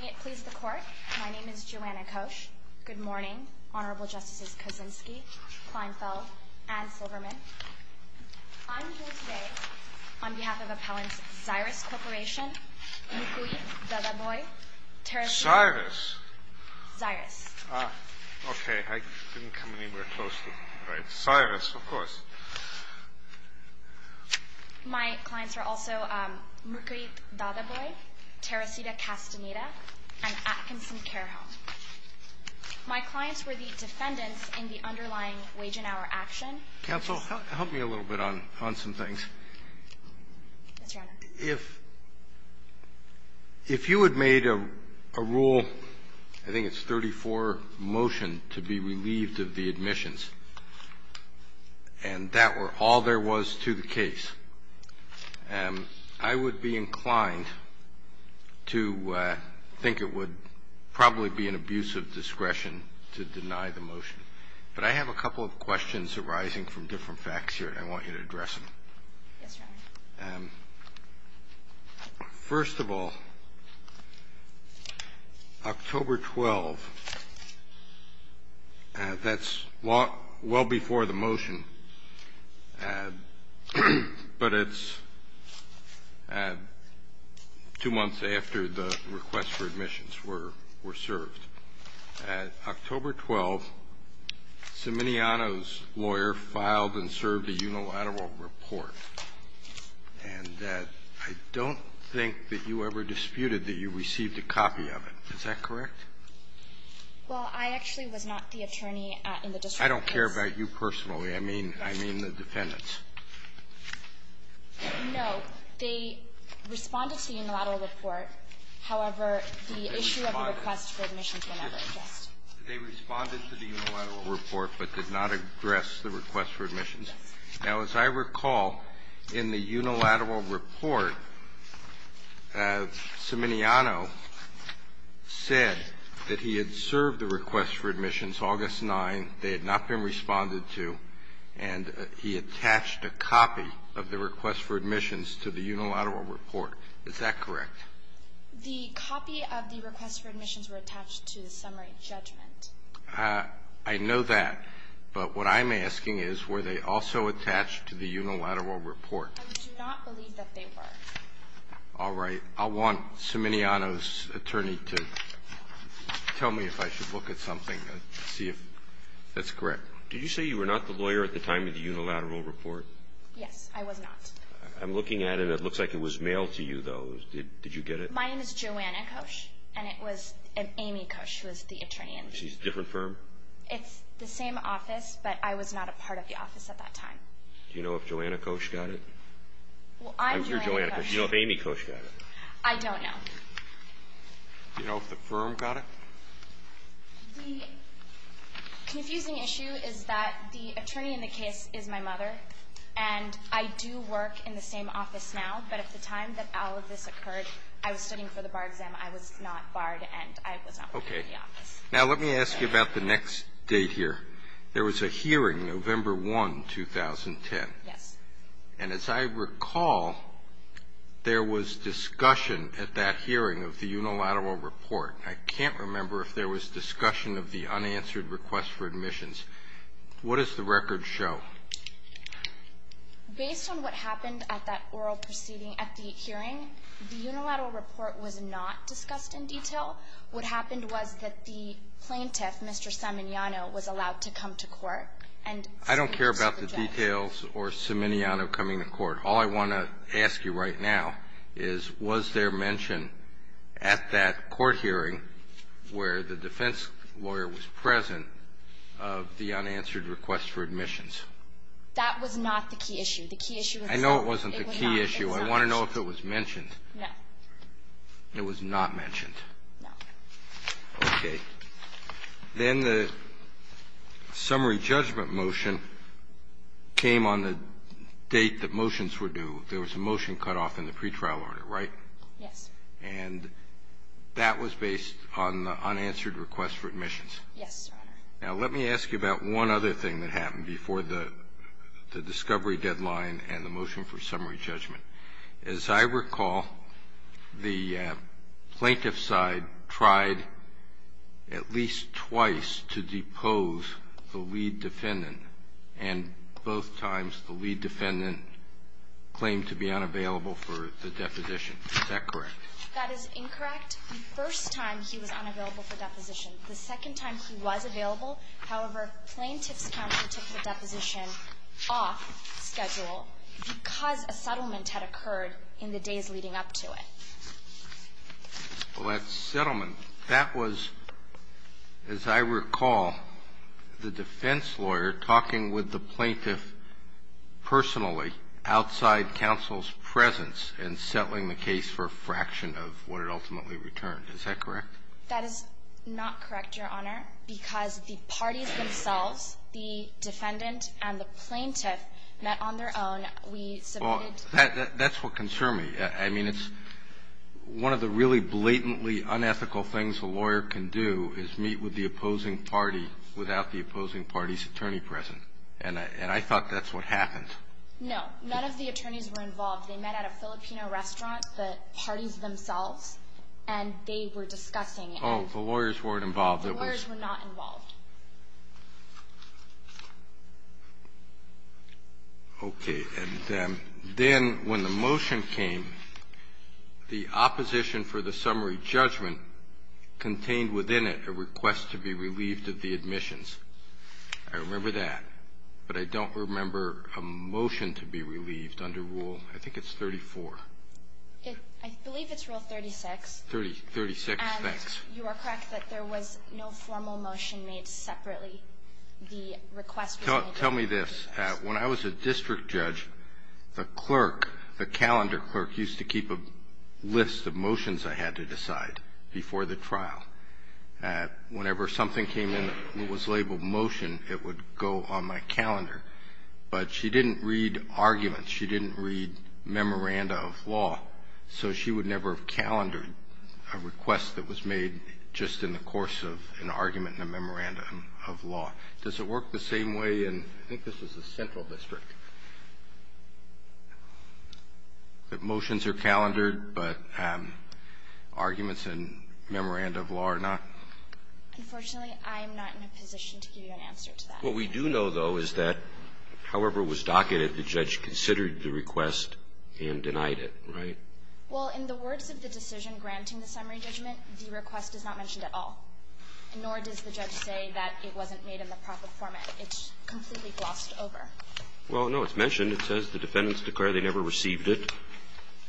May it please the Court, my name is Joanna Kosch. Good morning, Honorable Justices Kuczynski, Kleinfeld, and Silverman. I'm here today on behalf of Appellants Xyris Corporation, Mukuit Dadaboy, Teresita Castaneda. Xyris? Xyris. Ah, okay, I didn't come anywhere close to it. Right, Xyris, of course. My clients are also Mukuit Dadaboy, Teresita Castaneda, and Atkinson Care Home. My clients were the defendants in the underlying wage and hour action. Counsel, help me a little bit on some things. Yes, Your Honor. If you had made a rule, I think it's 34, motion to be relieved of the admissions, and that were all there was to the case, I would be inclined to think it would probably be an abuse of discretion to deny the motion. But I have a couple of questions arising from different facts here, and I want you to address them. Yes, Your Honor. First of all, October 12th, that's well before the motion, but it's two months after the requests for admissions were served. At October 12th, Simoniano's lawyer filed and served a unilateral report, and I don't think that you ever disputed that you received a copy of it. Is that correct? Well, I actually was not the attorney in the district case. I don't care about you personally. I mean the defendants. No. They responded to the unilateral report. However, the issue of the request for admissions will never exist. They responded to the unilateral report but did not address the request for admissions? Yes. Now, as I recall, in the unilateral report, Simoniano said that he had served the request for admissions August 9th, they had not been responded to, and he attached a copy of the request for admissions to the unilateral report. Is that correct? The copy of the request for admissions were attached to the summary judgment. I know that, but what I'm asking is were they also attached to the unilateral report? I do not believe that they were. All right. I want Simoniano's attorney to tell me if I should look at something to see if that's correct. Did you say you were not the lawyer at the time of the unilateral report? Yes, I was not. I'm looking at it. It looks like it was mailed to you, though. Did you get it? Mine is Joanna Kosch, and it was Amy Kosch who was the attorney. She's a different firm? It's the same office, but I was not a part of the office at that time. Do you know if Joanna Kosch got it? Well, I'm Joanna Kosch. I'm sure Joanna Kosch. Do you know if Amy Kosch got it? I don't know. Do you know if the firm got it? The confusing issue is that the attorney in the case is my mother, and I do work in the same office now, but at the time that all of this occurred, I was studying for the bar exam. I was not barred, and I was not part of the office. Okay. Now, let me ask you about the next date here. There was a hearing, November 1, 2010. Yes. And as I recall, there was discussion at that hearing of the unilateral report. I can't remember if there was discussion of the unanswered request for admissions. What does the record show? Based on what happened at that oral proceeding at the hearing, the unilateral report was not discussed in detail. What happened was that the plaintiff, Mr. Simoniano, was allowed to come to court and submit his project. I don't care about the details or Simoniano coming to court. All I want to ask you right now is, was there mention at that court hearing where the defense lawyer was present of the unanswered request for admissions? That was not the key issue. The key issue was that it was not. I know it wasn't the key issue. I want to know if it was mentioned. No. It was not mentioned. No. Okay. Then the summary judgment motion came on the date that motions were due. There was a motion cut off in the pretrial order, right? Yes. And that was based on the unanswered request for admissions? Yes, Your Honor. Now, let me ask you about one other thing that happened before the discovery deadline and the motion for summary judgment. As I recall, the plaintiff's side tried at least twice to depose the lead defendant, and both times the lead defendant claimed to be unavailable for the deposition. Is that correct? That is incorrect. The first time he was unavailable for deposition. The second time he was available. However, plaintiff's counsel took the deposition off schedule because a settlement had occurred in the days leading up to it. Well, that settlement, that was, as I recall, the defense lawyer talking with the plaintiff personally outside counsel's presence and settling the case for a fraction of what it ultimately returned. Is that correct? That is not correct, Your Honor, because the parties themselves, the defendant and the plaintiff, met on their own. That's what concerned me. I mean, it's one of the really blatantly unethical things a lawyer can do is meet with the opposing party without the opposing party's attorney present. And I thought that's what happened. No. None of the attorneys were involved. They met at a Filipino restaurant, the parties themselves, and they were discussing Oh, the lawyers weren't involved. The lawyers were not involved. Okay. And then when the motion came, the opposition for the summary judgment contained within it a request to be relieved of the admissions. I remember that. But I don't remember a motion to be relieved under Rule, I think it's 34. I believe it's Rule 36. 36, thanks. You are correct that there was no formal motion made separately. The request was made separately. Tell me this. When I was a district judge, the clerk, the calendar clerk, used to keep a list of motions I had to decide before the trial. Whenever something came in that was labeled motion, it would go on my calendar. But she didn't read arguments. She didn't read memoranda of law. So she would never have calendared a request that was made just in the course of an argument and a memoranda of law. Does it work the same way in, I think this was the central district, that motions are calendared but arguments and memoranda of law are not? Unfortunately, I am not in a position to give you an answer to that. What we do know, though, is that however it was docketed, the judge considered the request and denied it. Right? Well, in the words of the decision granting the summary judgment, the request is not mentioned at all. Nor does the judge say that it wasn't made in the proper format. It's completely glossed over. Well, no, it's mentioned. It says the defendants declared they never received it.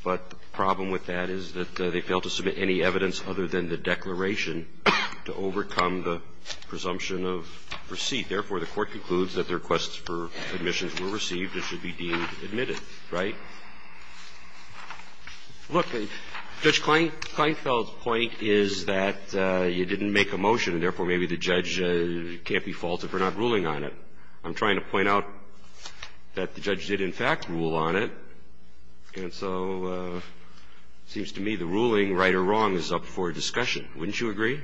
But the problem with that is that they failed to submit any evidence other than the declaration to overcome the presumption of receipt. Therefore, the Court concludes that the request for admissions were received and should be deemed admitted. Right? Look, Judge Kleinfeld's point is that you didn't make a motion, and therefore maybe the judge can't be faulted for not ruling on it. I'm trying to point out that the judge did, in fact, rule on it. And so it seems to me the ruling, right or wrong, is up for discussion. Wouldn't you agree?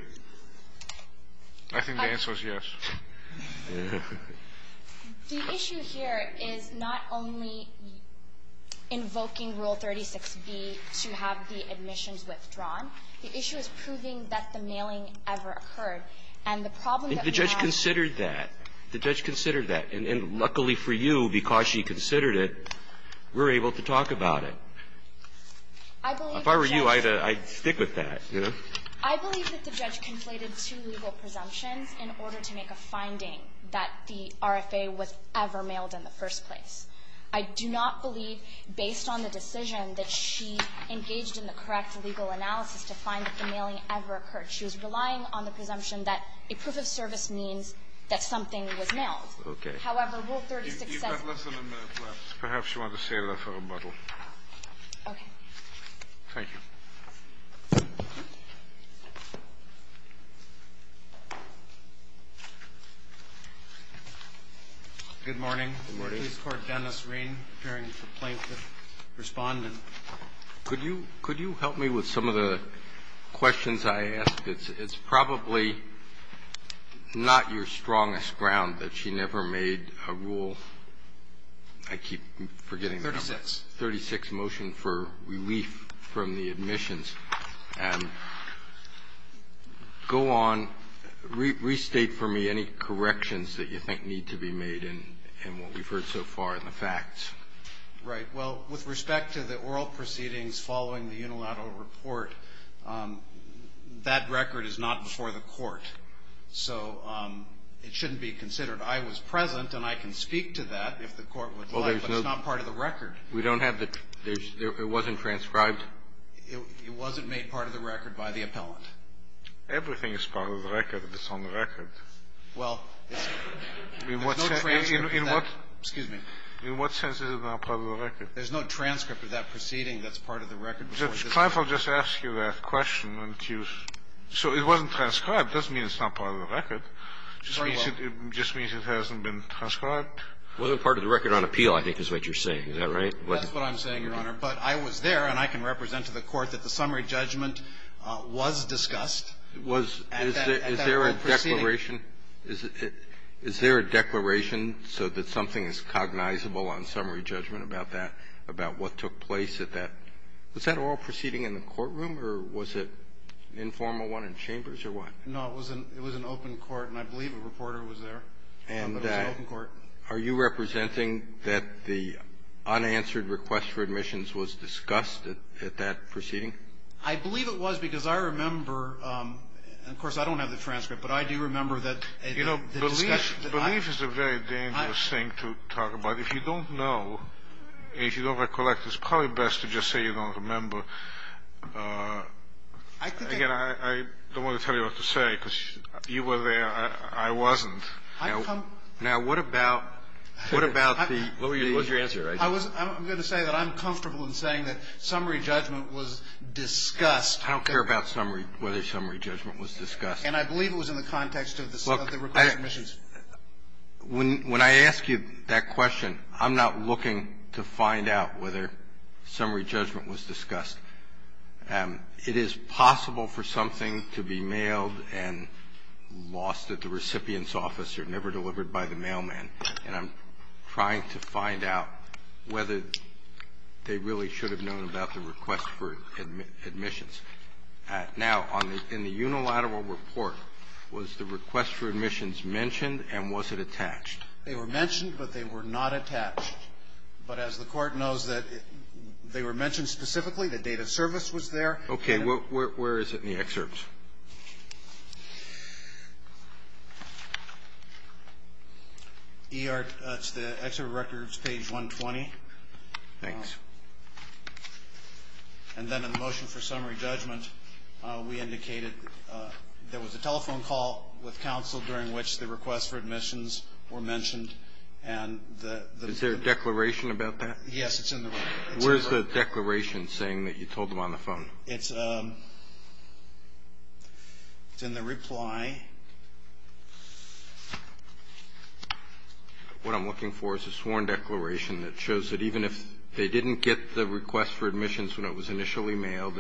I think the answer is yes. The issue here is not only invoking Rule 36B to have the admissions withdrawn. The issue is proving that the mailing ever occurred. And the problem that we have to do is that the judge considered that. The judge considered that. And luckily for you, because she considered it, we're able to talk about it. If I were you, I'd stick with that. Yes. I believe that the judge conflated two legal presumptions in order to make a finding that the RFA was ever mailed in the first place. I do not believe, based on the decision, that she engaged in the correct legal analysis to find that the mailing ever occurred. She was relying on the presumption that a proof of service means that something was mailed. Okay. However, Rule 36S. You've got less than a minute left. Perhaps you want to say a little rebuttal. Okay. Thank you. Good morning. Good morning. Police Court, Dennis Rein, preparing for plaintiff respondent. Could you help me with some of the questions I asked? It's probably not your strongest ground that she never made a rule. I keep forgetting. 36. That's 36, motion for relief from the admissions. Go on. Restate for me any corrections that you think need to be made in what we've heard so far in the facts. Right. Well, with respect to the oral proceedings following the unilateral report, that record is not before the court. So it shouldn't be considered. I was present, and I can speak to that if the court would like, but it's not part of the record. We don't have the – it wasn't transcribed? It wasn't made part of the record by the appellant. Everything is part of the record if it's on the record. Well, there's no transcript of that. Excuse me. In what sense is it not part of the record? There's no transcript of that proceeding that's part of the record. The client will just ask you that question. So it wasn't transcribed. It doesn't mean it's not part of the record. Sorry, what? It just means it hasn't been transcribed. It wasn't part of the record on appeal, I think, is what you're saying. Is that right? That's what I'm saying, Your Honor. But I was there, and I can represent to the court that the summary judgment was discussed at that oral proceeding. Was – is there a declaration? Is there a declaration so that something is cognizable on summary judgment about that, about what took place at that? Was that oral proceeding in the courtroom, or was it an informal one in chambers, or what? No, it was an open court, and I believe a reporter was there. And are you representing that the unanswered request for admissions was discussed at that proceeding? I believe it was, because I remember – and, of course, I don't have the transcript, but I do remember that the discussion that I – You know, belief is a very dangerous thing to talk about. If you don't know, if you don't recollect, it's probably best to just say you don't remember. I think I – Again, I don't want to tell you what to say, because you were there. I wasn't. Now, what about – what about the – What was your answer? I'm going to say that I'm comfortable in saying that summary judgment was discussed. I don't care about whether summary judgment was discussed. And I believe it was in the context of the request for admissions. Look, when I ask you that question, I'm not looking to find out whether summary judgment was discussed. It is possible for something to be mailed and lost at the recipient's office or never delivered by the mailman, and I'm trying to find out whether they really should have known about the request for admissions. Now, in the unilateral report, was the request for admissions mentioned and was it attached? They were mentioned, but they were not attached. But as the Court knows, they were mentioned specifically. The date of service was there. Okay. Where is it in the excerpt? That's the excerpt of records, page 120. Thanks. And then in the motion for summary judgment, we indicated there was a telephone call with counsel during which the request for admissions were mentioned and the request for submissions were made. Is there a declaration about that? Yes, it's in the record. Where's the declaration saying that you told them on the phone? It's in the reply. What I'm looking for is a sworn declaration that shows that even if they didn't get the request for admissions when it was initially mailed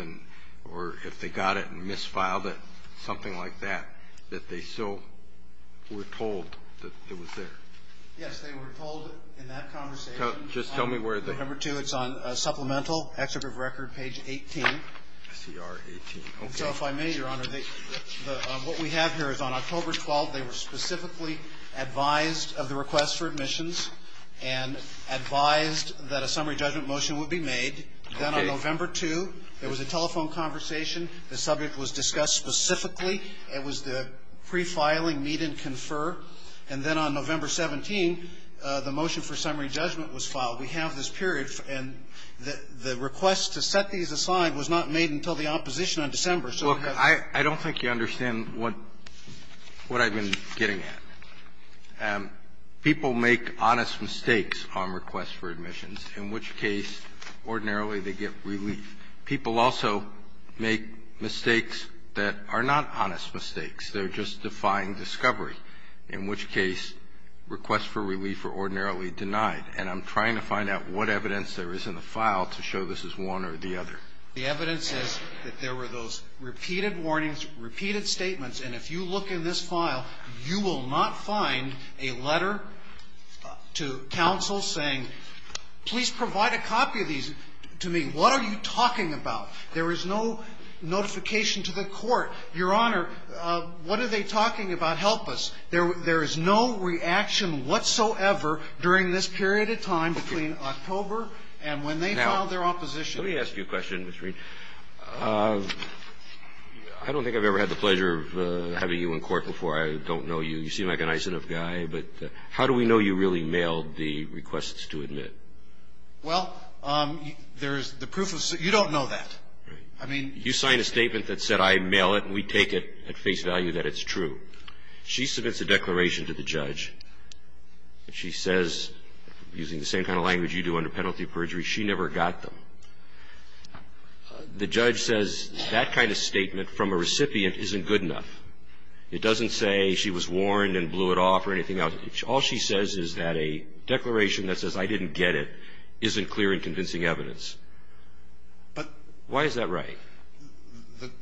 or if they got it and misfiled it, something like that, that they still were told that it was there. Yes, they were told in that conversation. Just tell me where it is. On November 2, it's on supplemental, excerpt of record, page 18. SCR 18. Okay. So if I may, Your Honor, what we have here is on October 12, they were specifically advised of the request for admissions and advised that a summary judgment motion would be made. Then on November 2, there was a telephone conversation. The subject was discussed specifically. It was the prefiling, meet and confer. And then on November 17, the motion for summary judgment was filed. We have this period. And the request to set these aside was not made until the opposition on December. Look, I don't think you understand what I've been getting at. People make honest mistakes on requests for admissions, in which case, ordinarily, they get relief. People also make mistakes that are not honest mistakes. They're just defying discovery. In which case, requests for relief are ordinarily denied. And I'm trying to find out what evidence there is in the file to show this is one or the other. The evidence is that there were those repeated warnings, repeated statements. And if you look in this file, you will not find a letter to counsel saying, please provide a copy of these to me. What are you talking about? There is no notification to the court. Your Honor, what are they talking about? They are not telling us what's going on. They're just saying, please help us. There is no reaction whatsoever during this period of time between October and when they filed their opposition. Now, let me ask you a question, Mr. Reed. I don't think I've ever had the pleasure of having you in court before. I don't know you. You seem like a nice enough guy. But how do we know you really mailed the requests to admit? Well, there is the proof of the statement. You don't know that. I mean, you sign a statement that said I mail it and we take it at face value that it's true. She submits a declaration to the judge. She says, using the same kind of language you do under penalty of perjury, she never got them. The judge says that kind of statement from a recipient isn't good enough. It doesn't say she was warned and blew it off or anything else. All she says is that a declaration that says I didn't get it isn't clear and convincing evidence. Why is that right?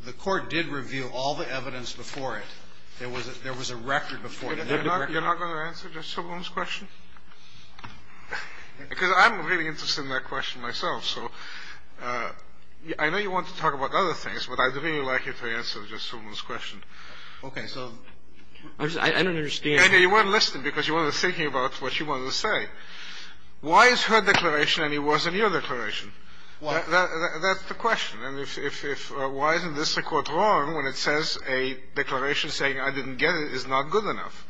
The court did reveal all the evidence before it. There was a record before it. You're not going to answer Judge Silverman's question? Because I'm really interested in that question myself. So I know you want to talk about other things, but I'd really like you to answer Judge Silverman's question. Okay. So I don't understand. You weren't listening because you weren't thinking about what she wanted to say. Why is her declaration any worse than your declaration? Why? That's the question. And if why isn't this record wrong when it says a declaration saying I didn't get it is not good enough?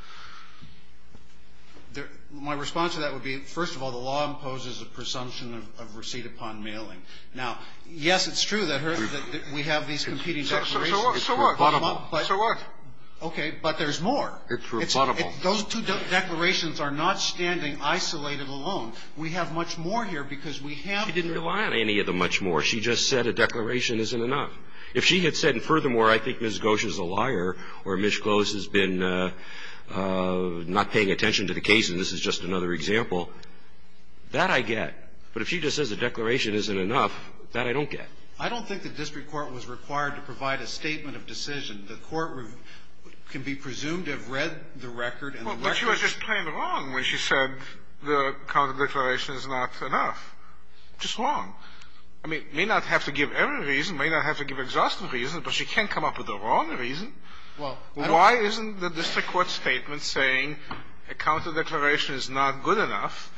My response to that would be, first of all, the law imposes a presumption of receipt upon mailing. Now, yes, it's true that we have these competing declarations. So what? So what? But there's more. It's rebuttable. Those two declarations are not standing isolated alone. We have much more here because we have the law. She didn't rely on any of them much more. She just said a declaration isn't enough. If she had said, and furthermore, I think Ms. Gosch is a liar or Ms. Close has been not paying attention to the case and this is just another example, that I get. But if she just says a declaration isn't enough, that I don't get. I don't think the district court was required to provide a statement of decision. The court can be presumed to have read the record and the records. Well, but she was just plain wrong when she said the counterdeclaration is not enough. Just wrong. I mean, it may not have to give every reason. It may not have to give exhaustive reasons, but she can come up with the wrong reason. Well, I don't think. Why isn't the district court's statement saying a counterdeclaration is not good enough?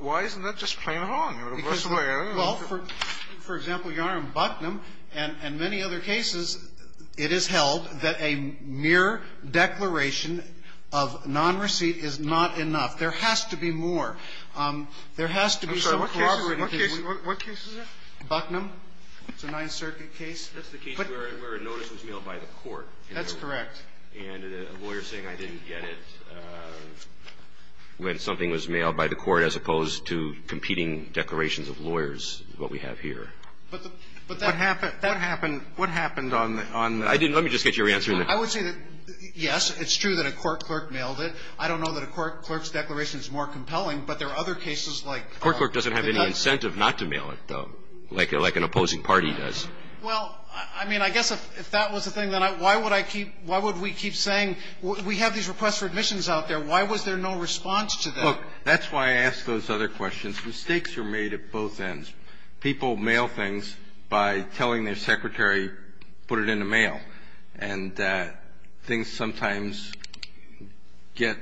Why isn't that just plain wrong? In the worst way, I don't know. Well, for example, Your Honor, in Bucknum and many other cases, it is held that a mere declaration of nonreceipt is not enough. There has to be more. There has to be some cooperative. I'm sorry. What case is that? Bucknum. It's a Ninth Circuit case. That's the case where a notice was mailed by the court. That's correct. And a lawyer saying I didn't get it when something was mailed by the court as opposed to competing declarations of lawyers, what we have here. But that happened. That happened. What happened on that? I didn't. Let me just get your answer. I would say that, yes, it's true that a court clerk mailed it. I don't know that a court clerk's declaration is more compelling, but there are other cases like that. A court clerk doesn't have any incentive not to mail it, though, like an opposing party does. Well, I mean, I guess if that was the thing, then why would I keep why would we keep saying we have these requests for admissions out there? Why was there no response to that? Look, that's why I ask those other questions. Mistakes are made at both ends. People mail things by telling their secretary, put it in the mail. And things sometimes get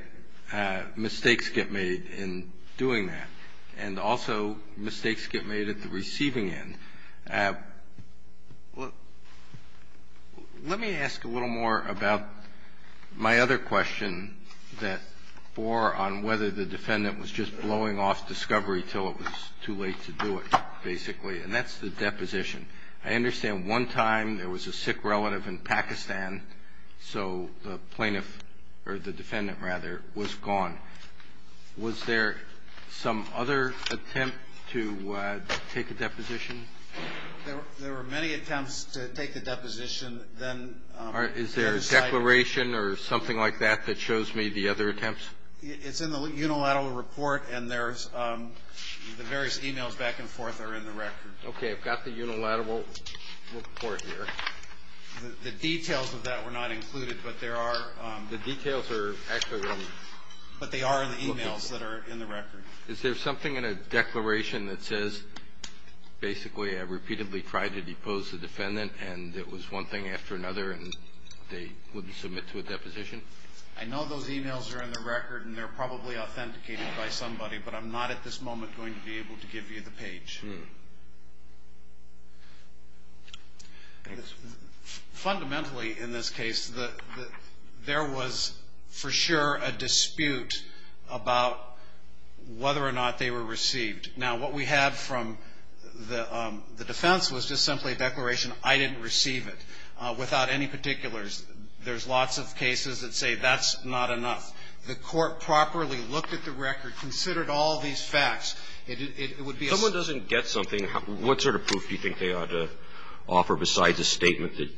– mistakes get made in doing that. And also mistakes get made at the receiving end. Let me ask a little more about my other question that bore on whether the defendant was just blowing off discovery until it was too late to do it, basically. And that's the deposition. I understand one time there was a sick relative in Pakistan, so the plaintiff – or the defendant, rather, was gone. Was there some other attempt to take a deposition? There were many attempts to take a deposition. Is there a declaration or something like that that shows me the other attempts? It's in the unilateral report, and there's – the various e-mails back and forth are in the record. Okay. I've got the unilateral report here. The details of that were not included, but there are – The details are actually on the – But they are in the e-mails that are in the record. Is there something in a declaration that says, basically, I repeatedly tried to depose the defendant, and it was one thing after another, and they wouldn't submit to a deposition? I know those e-mails are in the record, and they're probably authenticated by somebody, but I'm not at this moment going to be able to give you the page. Fundamentally, in this case, there was, for sure, a dispute about whether or not they were received. Now, what we have from the defense was just simply a declaration, I didn't receive it, without any particulars. There's lots of cases that say that's not enough. The Court properly looked at the record, considered all these facts. It would be a simple case. If you get something, what sort of proof do you think they ought to offer besides a statement that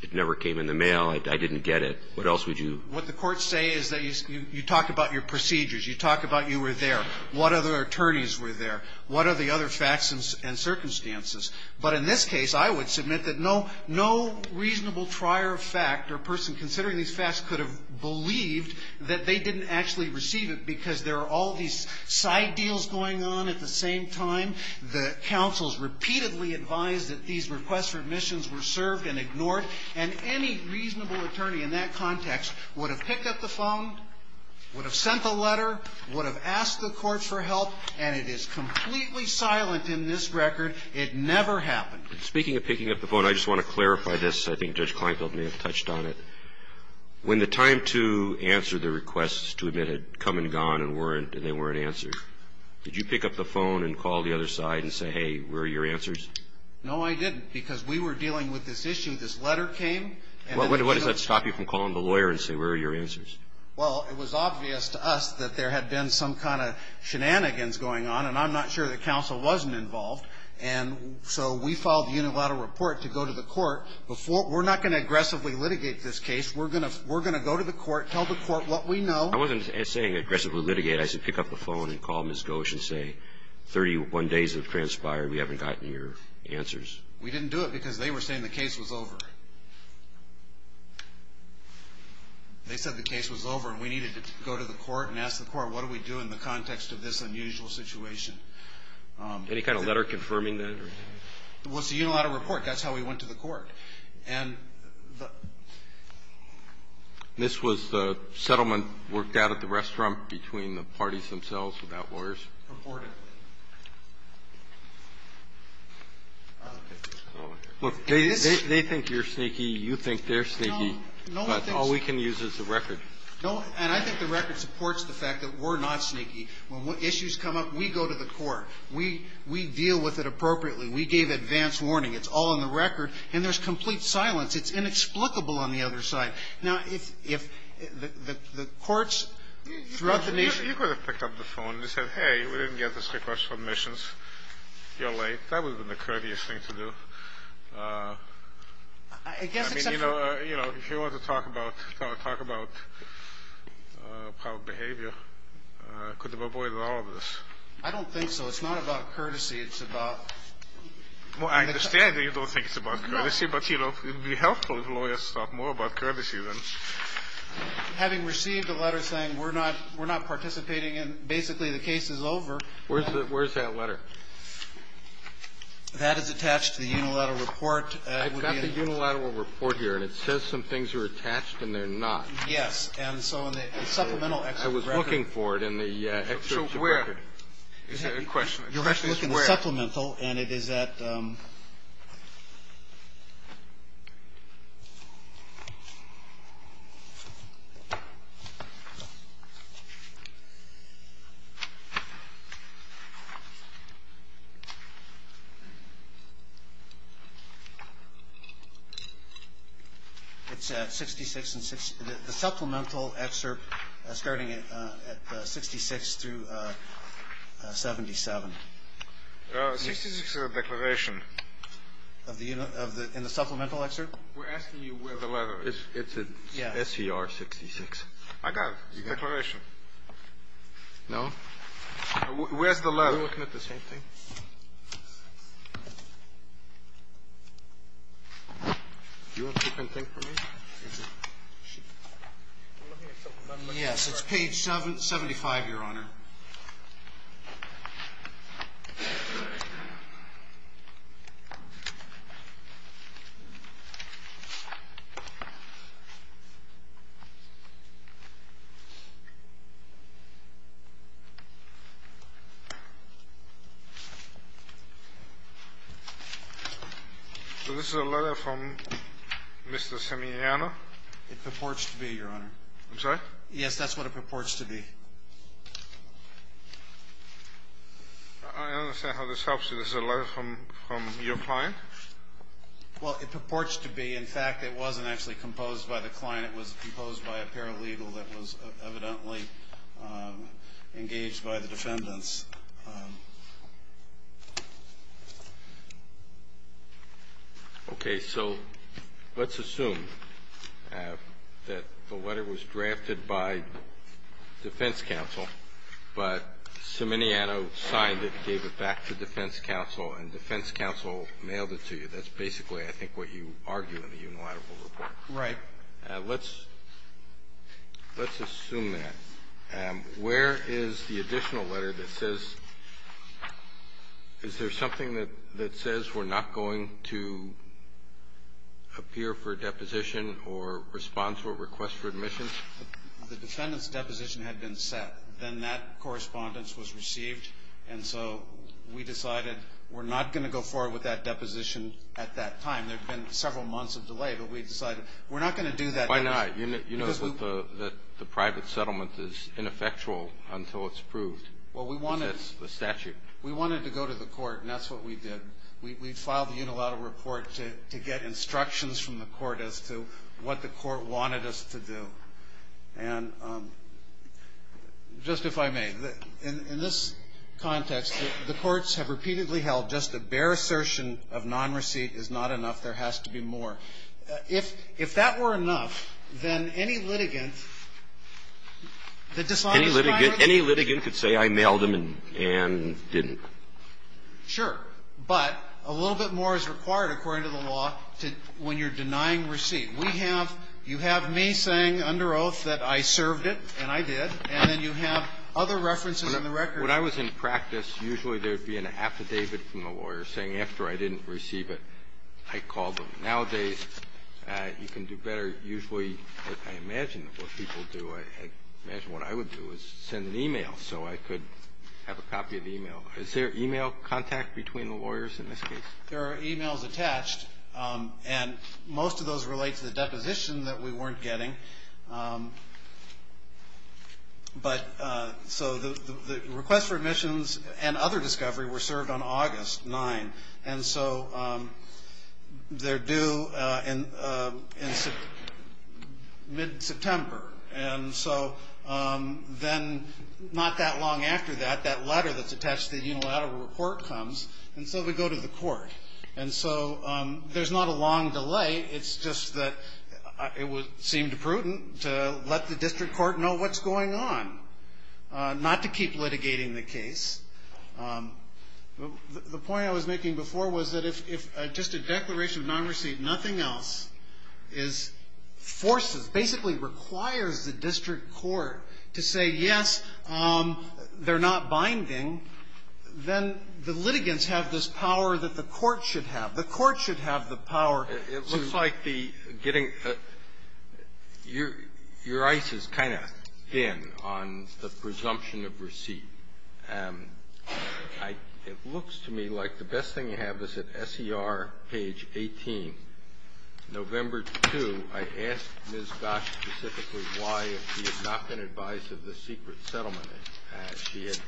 it never came in the mail, I didn't get it? What else would you – What the courts say is that you talk about your procedures. You talk about you were there. What other attorneys were there? What are the other facts and circumstances? But in this case, I would submit that no reasonable trier of fact or person considering these facts could have believed that they didn't actually receive it because there are all these side deals going on at the same time. The counsels repeatedly advised that these requests for admissions were served and ignored, and any reasonable attorney in that context would have picked up the phone, would have sent the letter, would have asked the court for help, and it is completely silent in this record. It never happened. Speaking of picking up the phone, I just want to clarify this. I think Judge Kleinfeld may have touched on it. When the time to answer the requests to admit had come and gone and weren't – and they weren't answered, did you pick up the phone and call the other side and say, hey, where are your answers? No, I didn't, because we were dealing with this issue. This letter came. What does that stop you from calling the lawyer and saying, where are your answers? Well, it was obvious to us that there had been some kind of shenanigans going on, and I'm not sure the counsel wasn't involved. And so we filed a unilateral report to go to the court. We're not going to aggressively litigate this case. We're going to go to the court, tell the court what we know. I wasn't saying aggressively litigate. I said pick up the phone and call Ms. Gosch and say 31 days have transpired. We haven't gotten your answers. We didn't do it because they were saying the case was over. They said the case was over, and we needed to go to the court and ask the court, what do we do in the context of this unusual situation? Any kind of letter confirming that? Well, it's a unilateral report. That's how we went to the court. And the ---- This was the settlement worked out at the restaurant between the parties themselves without lawyers? Purportedly. They think you're sneaky. You think they're sneaky. No. But all we can use is the record. No. And I think the record supports the fact that we're not sneaky. When issues come up, we go to the court. We deal with it appropriately. We gave advance warning. It's all in the record. And there's complete silence. It's inexplicable on the other side. Now, if the courts throughout the nation ---- You could have picked up the phone and said, hey, we didn't get this request for admissions. You're late. That would have been the courteous thing to do. I mean, you know, if you want to talk about public behavior, could have avoided all of this. I don't think so. It's not about courtesy. It's about ---- Well, I understand that you don't think it's about courtesy. No. But, you know, it would be helpful if lawyers thought more about courtesy than ---- Having received a letter saying we're not participating and basically the case is over ---- Where's that letter? That is attached to the unilateral report. I've got the unilateral report here, and it says some things are attached and they're not. Yes. And so in the supplemental excerpt record ---- I was looking for it in the excerpt record. So where? Is there a question? The question is where. It's supplemental, and it is at ---- It's at 66 and 6. The supplemental excerpt starting at 66 through 77. 66 is a declaration. In the supplemental excerpt? We're asking you where the letter is. It's at SER 66. I got it. It's a declaration. No. Where's the letter? Are we looking at the same thing? Do you want to keep anything from me? Yes. It's page 75, Your Honor. So this is a letter from Mr. Simeone? It purports to be, Your Honor. I'm sorry? Yes, that's what it purports to be. I understand how this helps you. This is a letter from your client? Well, it purports to be. In fact, it wasn't actually composed by the client. It was composed by a paralegal that was evidently engaged by the defendants. Okay. So let's assume that the letter was drafted by defense counsel, but Simeone signed it, gave it back to defense counsel, and defense counsel mailed it to you. That's basically, I think, what you argue in the unilateral report. Right. Let's assume that. Where is the additional letter that says, is there something that says we're not going to appear for a deposition or respond to a request for admission? The defendant's deposition had been set. Then that correspondence was received, and so we decided we're not going to go forward with that deposition at that time. There had been several months of delay, but we decided we're not going to do that. Why not? You know that the private settlement is ineffectual until it's approved. That's the statute. We wanted to go to the court, and that's what we did. We filed the unilateral report to get instructions from the court as to what the court wanted us to do. And just if I may, in this context, the courts have repeatedly held just a bare assertion of non-receipt is not enough. There has to be more. If that were enough, then any litigant that decided to deny a receipt. Any litigant could say I mailed them and didn't. Sure. But a little bit more is required, according to the law, when you're denying receipt. We have you have me saying under oath that I served it, and I did. And then you have other references in the record. When I was in practice, usually there would be an affidavit from the lawyer saying after I didn't receive it, I called them. Nowadays, you can do better. Usually, like I imagine what people do, I imagine what I would do is send an e-mail so I could have a copy of the e-mail. Is there e-mail contact between the lawyers in this case? There are e-mails attached, and most of those relate to the deposition that we weren't getting. But so the request for admissions and other discovery were served on August 9. And so they're due in mid-September. And so then not that long after that, that letter that's attached to the unilateral report comes, and so we go to the court. And so there's not a long delay. It's just that it would seem prudent to let the district court know what's going on, not to keep litigating the case. The point I was making before was that if just a declaration of nonreceipt, nothing else is forced, basically requires the district court to say, yes, they're not binding, then the litigants have this power that the court should have. The court should have the power. It looks like the getting the – your ice is kind of thin on the presumption of receipt. It looks to me like the best thing you have is at SER page 18. November 2, I asked Ms. Gosch specifically why she had not been advised of the secret settlement. She had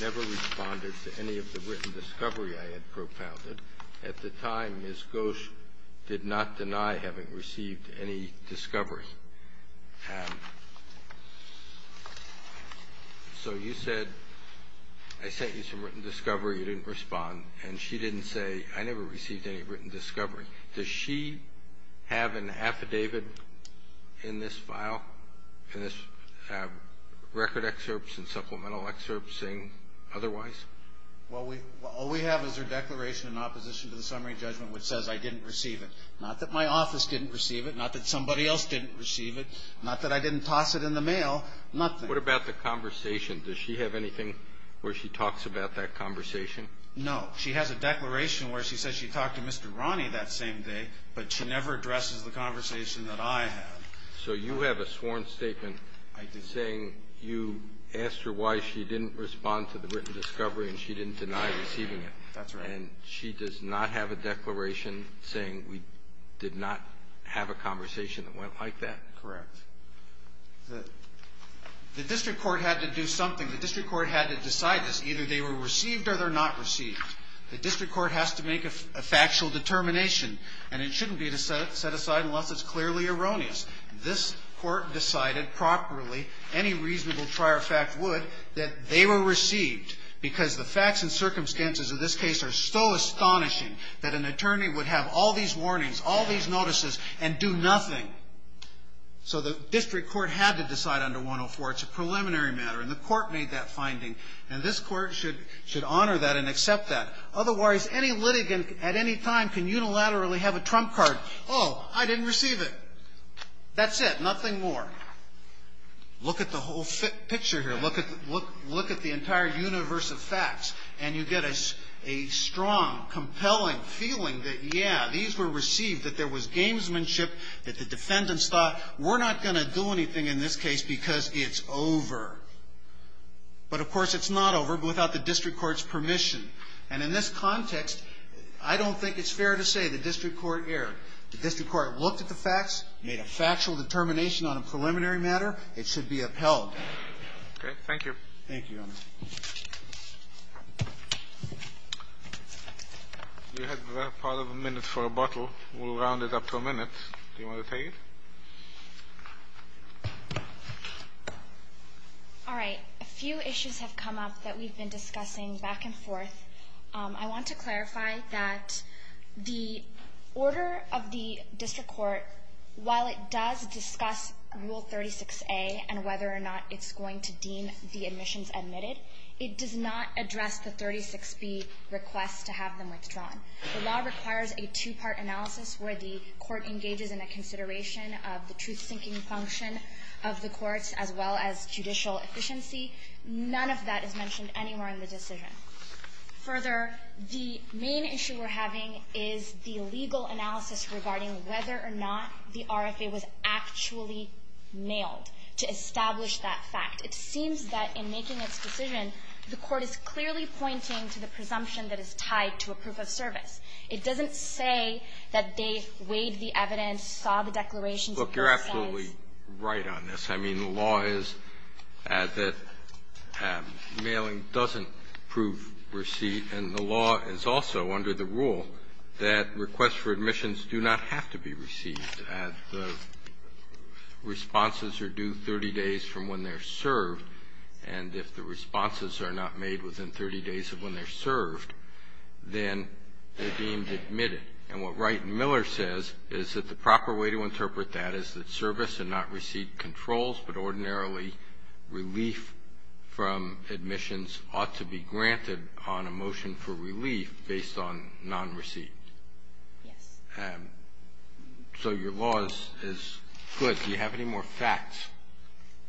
never responded to any of the written discovery I had propounded. At the time, Ms. Gosch did not deny having received any discovery. So you said, I sent you some written discovery. You didn't respond. And she didn't say, I never received any written discovery. Does she have an affidavit in this file, in this record excerpts and supplemental excerpts saying otherwise? All we have is her declaration in opposition to the summary judgment which says, I didn't receive it. Not that my office didn't receive it. Not that somebody else didn't receive it. Not that I didn't toss it in the mail. Nothing. What about the conversation? Does she have anything where she talks about that conversation? No. She has a declaration where she says she talked to Mr. Ronnie that same day, but she never addresses the conversation that I had. So you have a sworn statement saying you asked her why she didn't respond to the written discovery and she didn't deny receiving it. That's right. And she does not have a declaration saying we did not have a conversation that went like that? Correct. The district court had to do something. The district court had to decide this. Either they were received or they're not received. The district court has to make a factual determination, and it shouldn't be to set aside unless it's clearly erroneous. This Court decided properly, any reasonable trier of fact would, that they were received because the facts and circumstances of this case are so astonishing that an attorney would have all these warnings, all these notices, and do nothing. So the district court had to decide under 104. It's a preliminary matter, and the court made that finding, and this court should honor that and accept that. Otherwise, any litigant at any time can unilaterally have a trump card. Oh, I didn't receive it. That's it. Nothing more. Look at the whole picture here. Look at the entire universe of facts, and you get a strong, compelling feeling that, yeah, these were received, that there was gamesmanship, that the defendants thought, we're not going to do anything in this case because it's over. But, of course, it's not over without the district court's permission. And in this context, I don't think it's fair to say the district court erred. The district court looked at the facts, made a factual determination on a preliminary matter. It should be upheld. Okay. Thank you. Thank you, Your Honor. You have part of a minute for rebuttal. We'll round it up to a minute. Do you want to take it? All right. A few issues have come up that we've been discussing back and forth. I want to clarify that the order of the district court, while it does discuss Rule 36A and whether or not it's going to deem the admissions admitted, it does not address the 36B request to have them withdrawn. The law requires a two-part analysis where the court engages in a consideration of the truth-seeking function of the courts as well as judicial efficiency. None of that is mentioned anywhere in the decision. Further, the main issue we're having is the legal analysis regarding whether or not the RFA was actually mailed to establish that fact. It seems that in making its decision, the court is clearly pointing to the presumption that is tied to a proof of service. It doesn't say that they weighed the evidence, saw the declarations. Look, you're absolutely right on this. I mean, the law is that mailing doesn't prove receipt, and the law is also under the rule that requests for admissions do not have to be received. The responses are due 30 days from when they're served, and if the responses are not made within 30 days of when they're served, then they're deemed admitted. And what Wright and Miller says is that the proper way to interpret that is that service and not receipt controls, but ordinarily relief from admissions ought to be granted on a motion for relief based on nonreceipt. So your law is good. Do you have any more facts?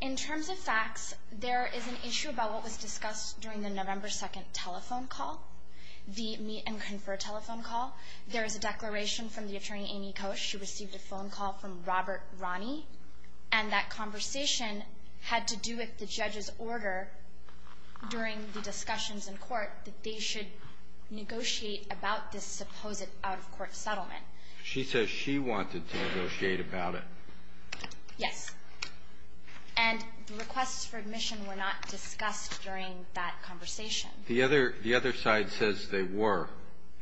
In terms of facts, there is an issue about what was discussed during the November 2nd telephone call, the meet-and-confer telephone call. There is a declaration from the attorney, Amy Koch, who received a phone call from Robert Ronnie, and that conversation had to do with the judge's order during the discussions in court that they should negotiate about this supposed out-of-court settlement. She says she wanted to negotiate about it. Yes. And the requests for admission were not discussed during that conversation. The other side says they were,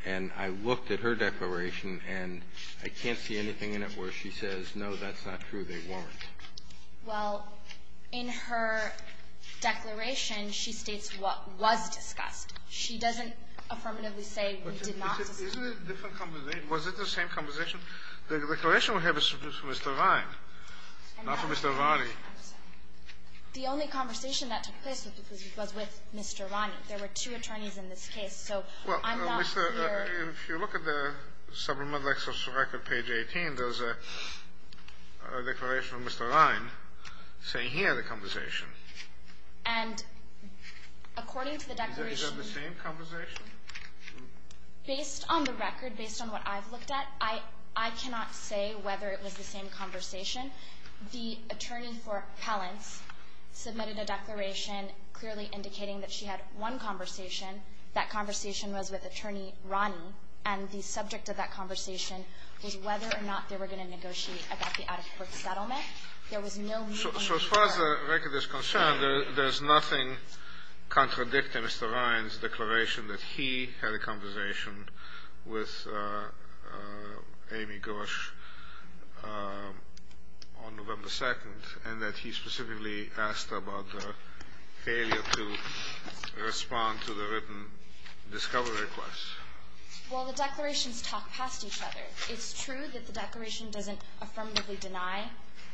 and I looked at her declaration, and I can't see anything in it where she says, no, that's not true, they weren't. Well, in her declaration, she states what was discussed. She doesn't affirmatively say we did not discuss it. Isn't it a different conversation? Was it the same conversation? The declaration we have is from Mr. Vine, not from Mr. Ronnie. I'm sorry. The only conversation that took place was with Mr. Ronnie. There were two attorneys in this case. So I'm not clear. If you look at the supplemental excerpt from record, page 18, there's a declaration from Mr. Vine saying he had a conversation. And according to the declaration ---- Is that the same conversation? Based on the record, based on what I've looked at, I cannot say whether it was the same conversation. The attorney for Pellance submitted a declaration clearly indicating that she had one conversation. That conversation was with Attorney Ronnie, and the subject of that conversation was whether or not they were going to negotiate about the out-of-court settlement. There was no ---- So as far as the record is concerned, there's nothing contradicting Mr. Vine's declaration that he had a conversation with Amy Gorsh on November 2nd, and that he specifically asked about her failure to respond to the written discovery request. Well, the declarations talk past each other. It's true that the declaration doesn't affirmatively deny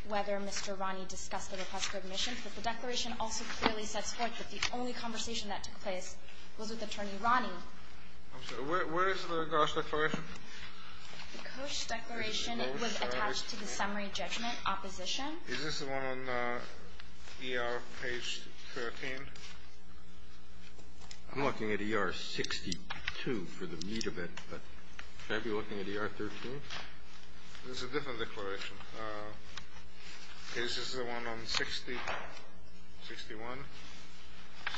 whether Mr. Ronnie discussed the request for admission, but the declaration also clearly sets forth that the only conversation that took place was with Attorney Ronnie. I'm sorry. Where is the Gorsh declaration? The Gorsh declaration was attached to the summary judgment opposition. Is this the one on ER page 13? I'm looking at ER 62 for the meat of it, but should I be looking at ER 13? It's a different declaration. Is this the one on 60, 61, 60?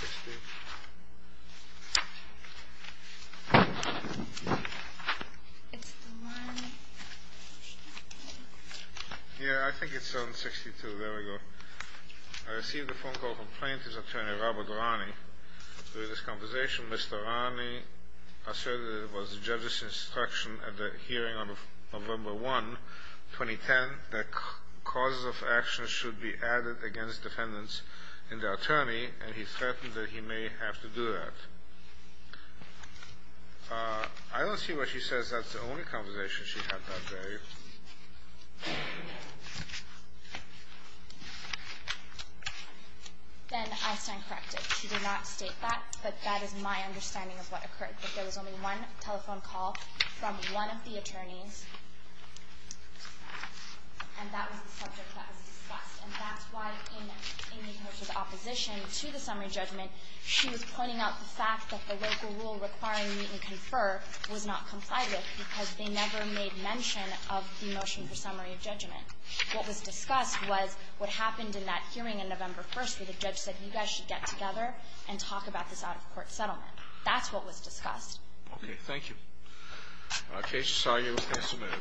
It's the one. Yeah, I think it's on 62. There we go. I received a phone call from plaintiff's attorney, Robert Ronnie. During this conversation, Mr. Ronnie asserted it was the judge's instruction at the hearing on November 1, 2010, that causes of action should be added against defendants in the attorney, and he threatened that he may have to do that. I don't see why she says that's the only conversation she had that day. Then Einstein corrected. She did not state that, but that is my understanding of what occurred, that there was only one telephone call from one of the attorneys, and that was the subject that was discussed. And that's why in the Gorsh's opposition to the summary judgment, she was pointing out the fact that the local rule requiring meet and confer was not complied with because they never made mention of the motion for summary of judgment. What was discussed was what happened in that hearing on November 1 where the judge said you guys should get together and talk about this out-of-court settlement. That's what was discussed. Okay. Thank you. Case is argued and submitted.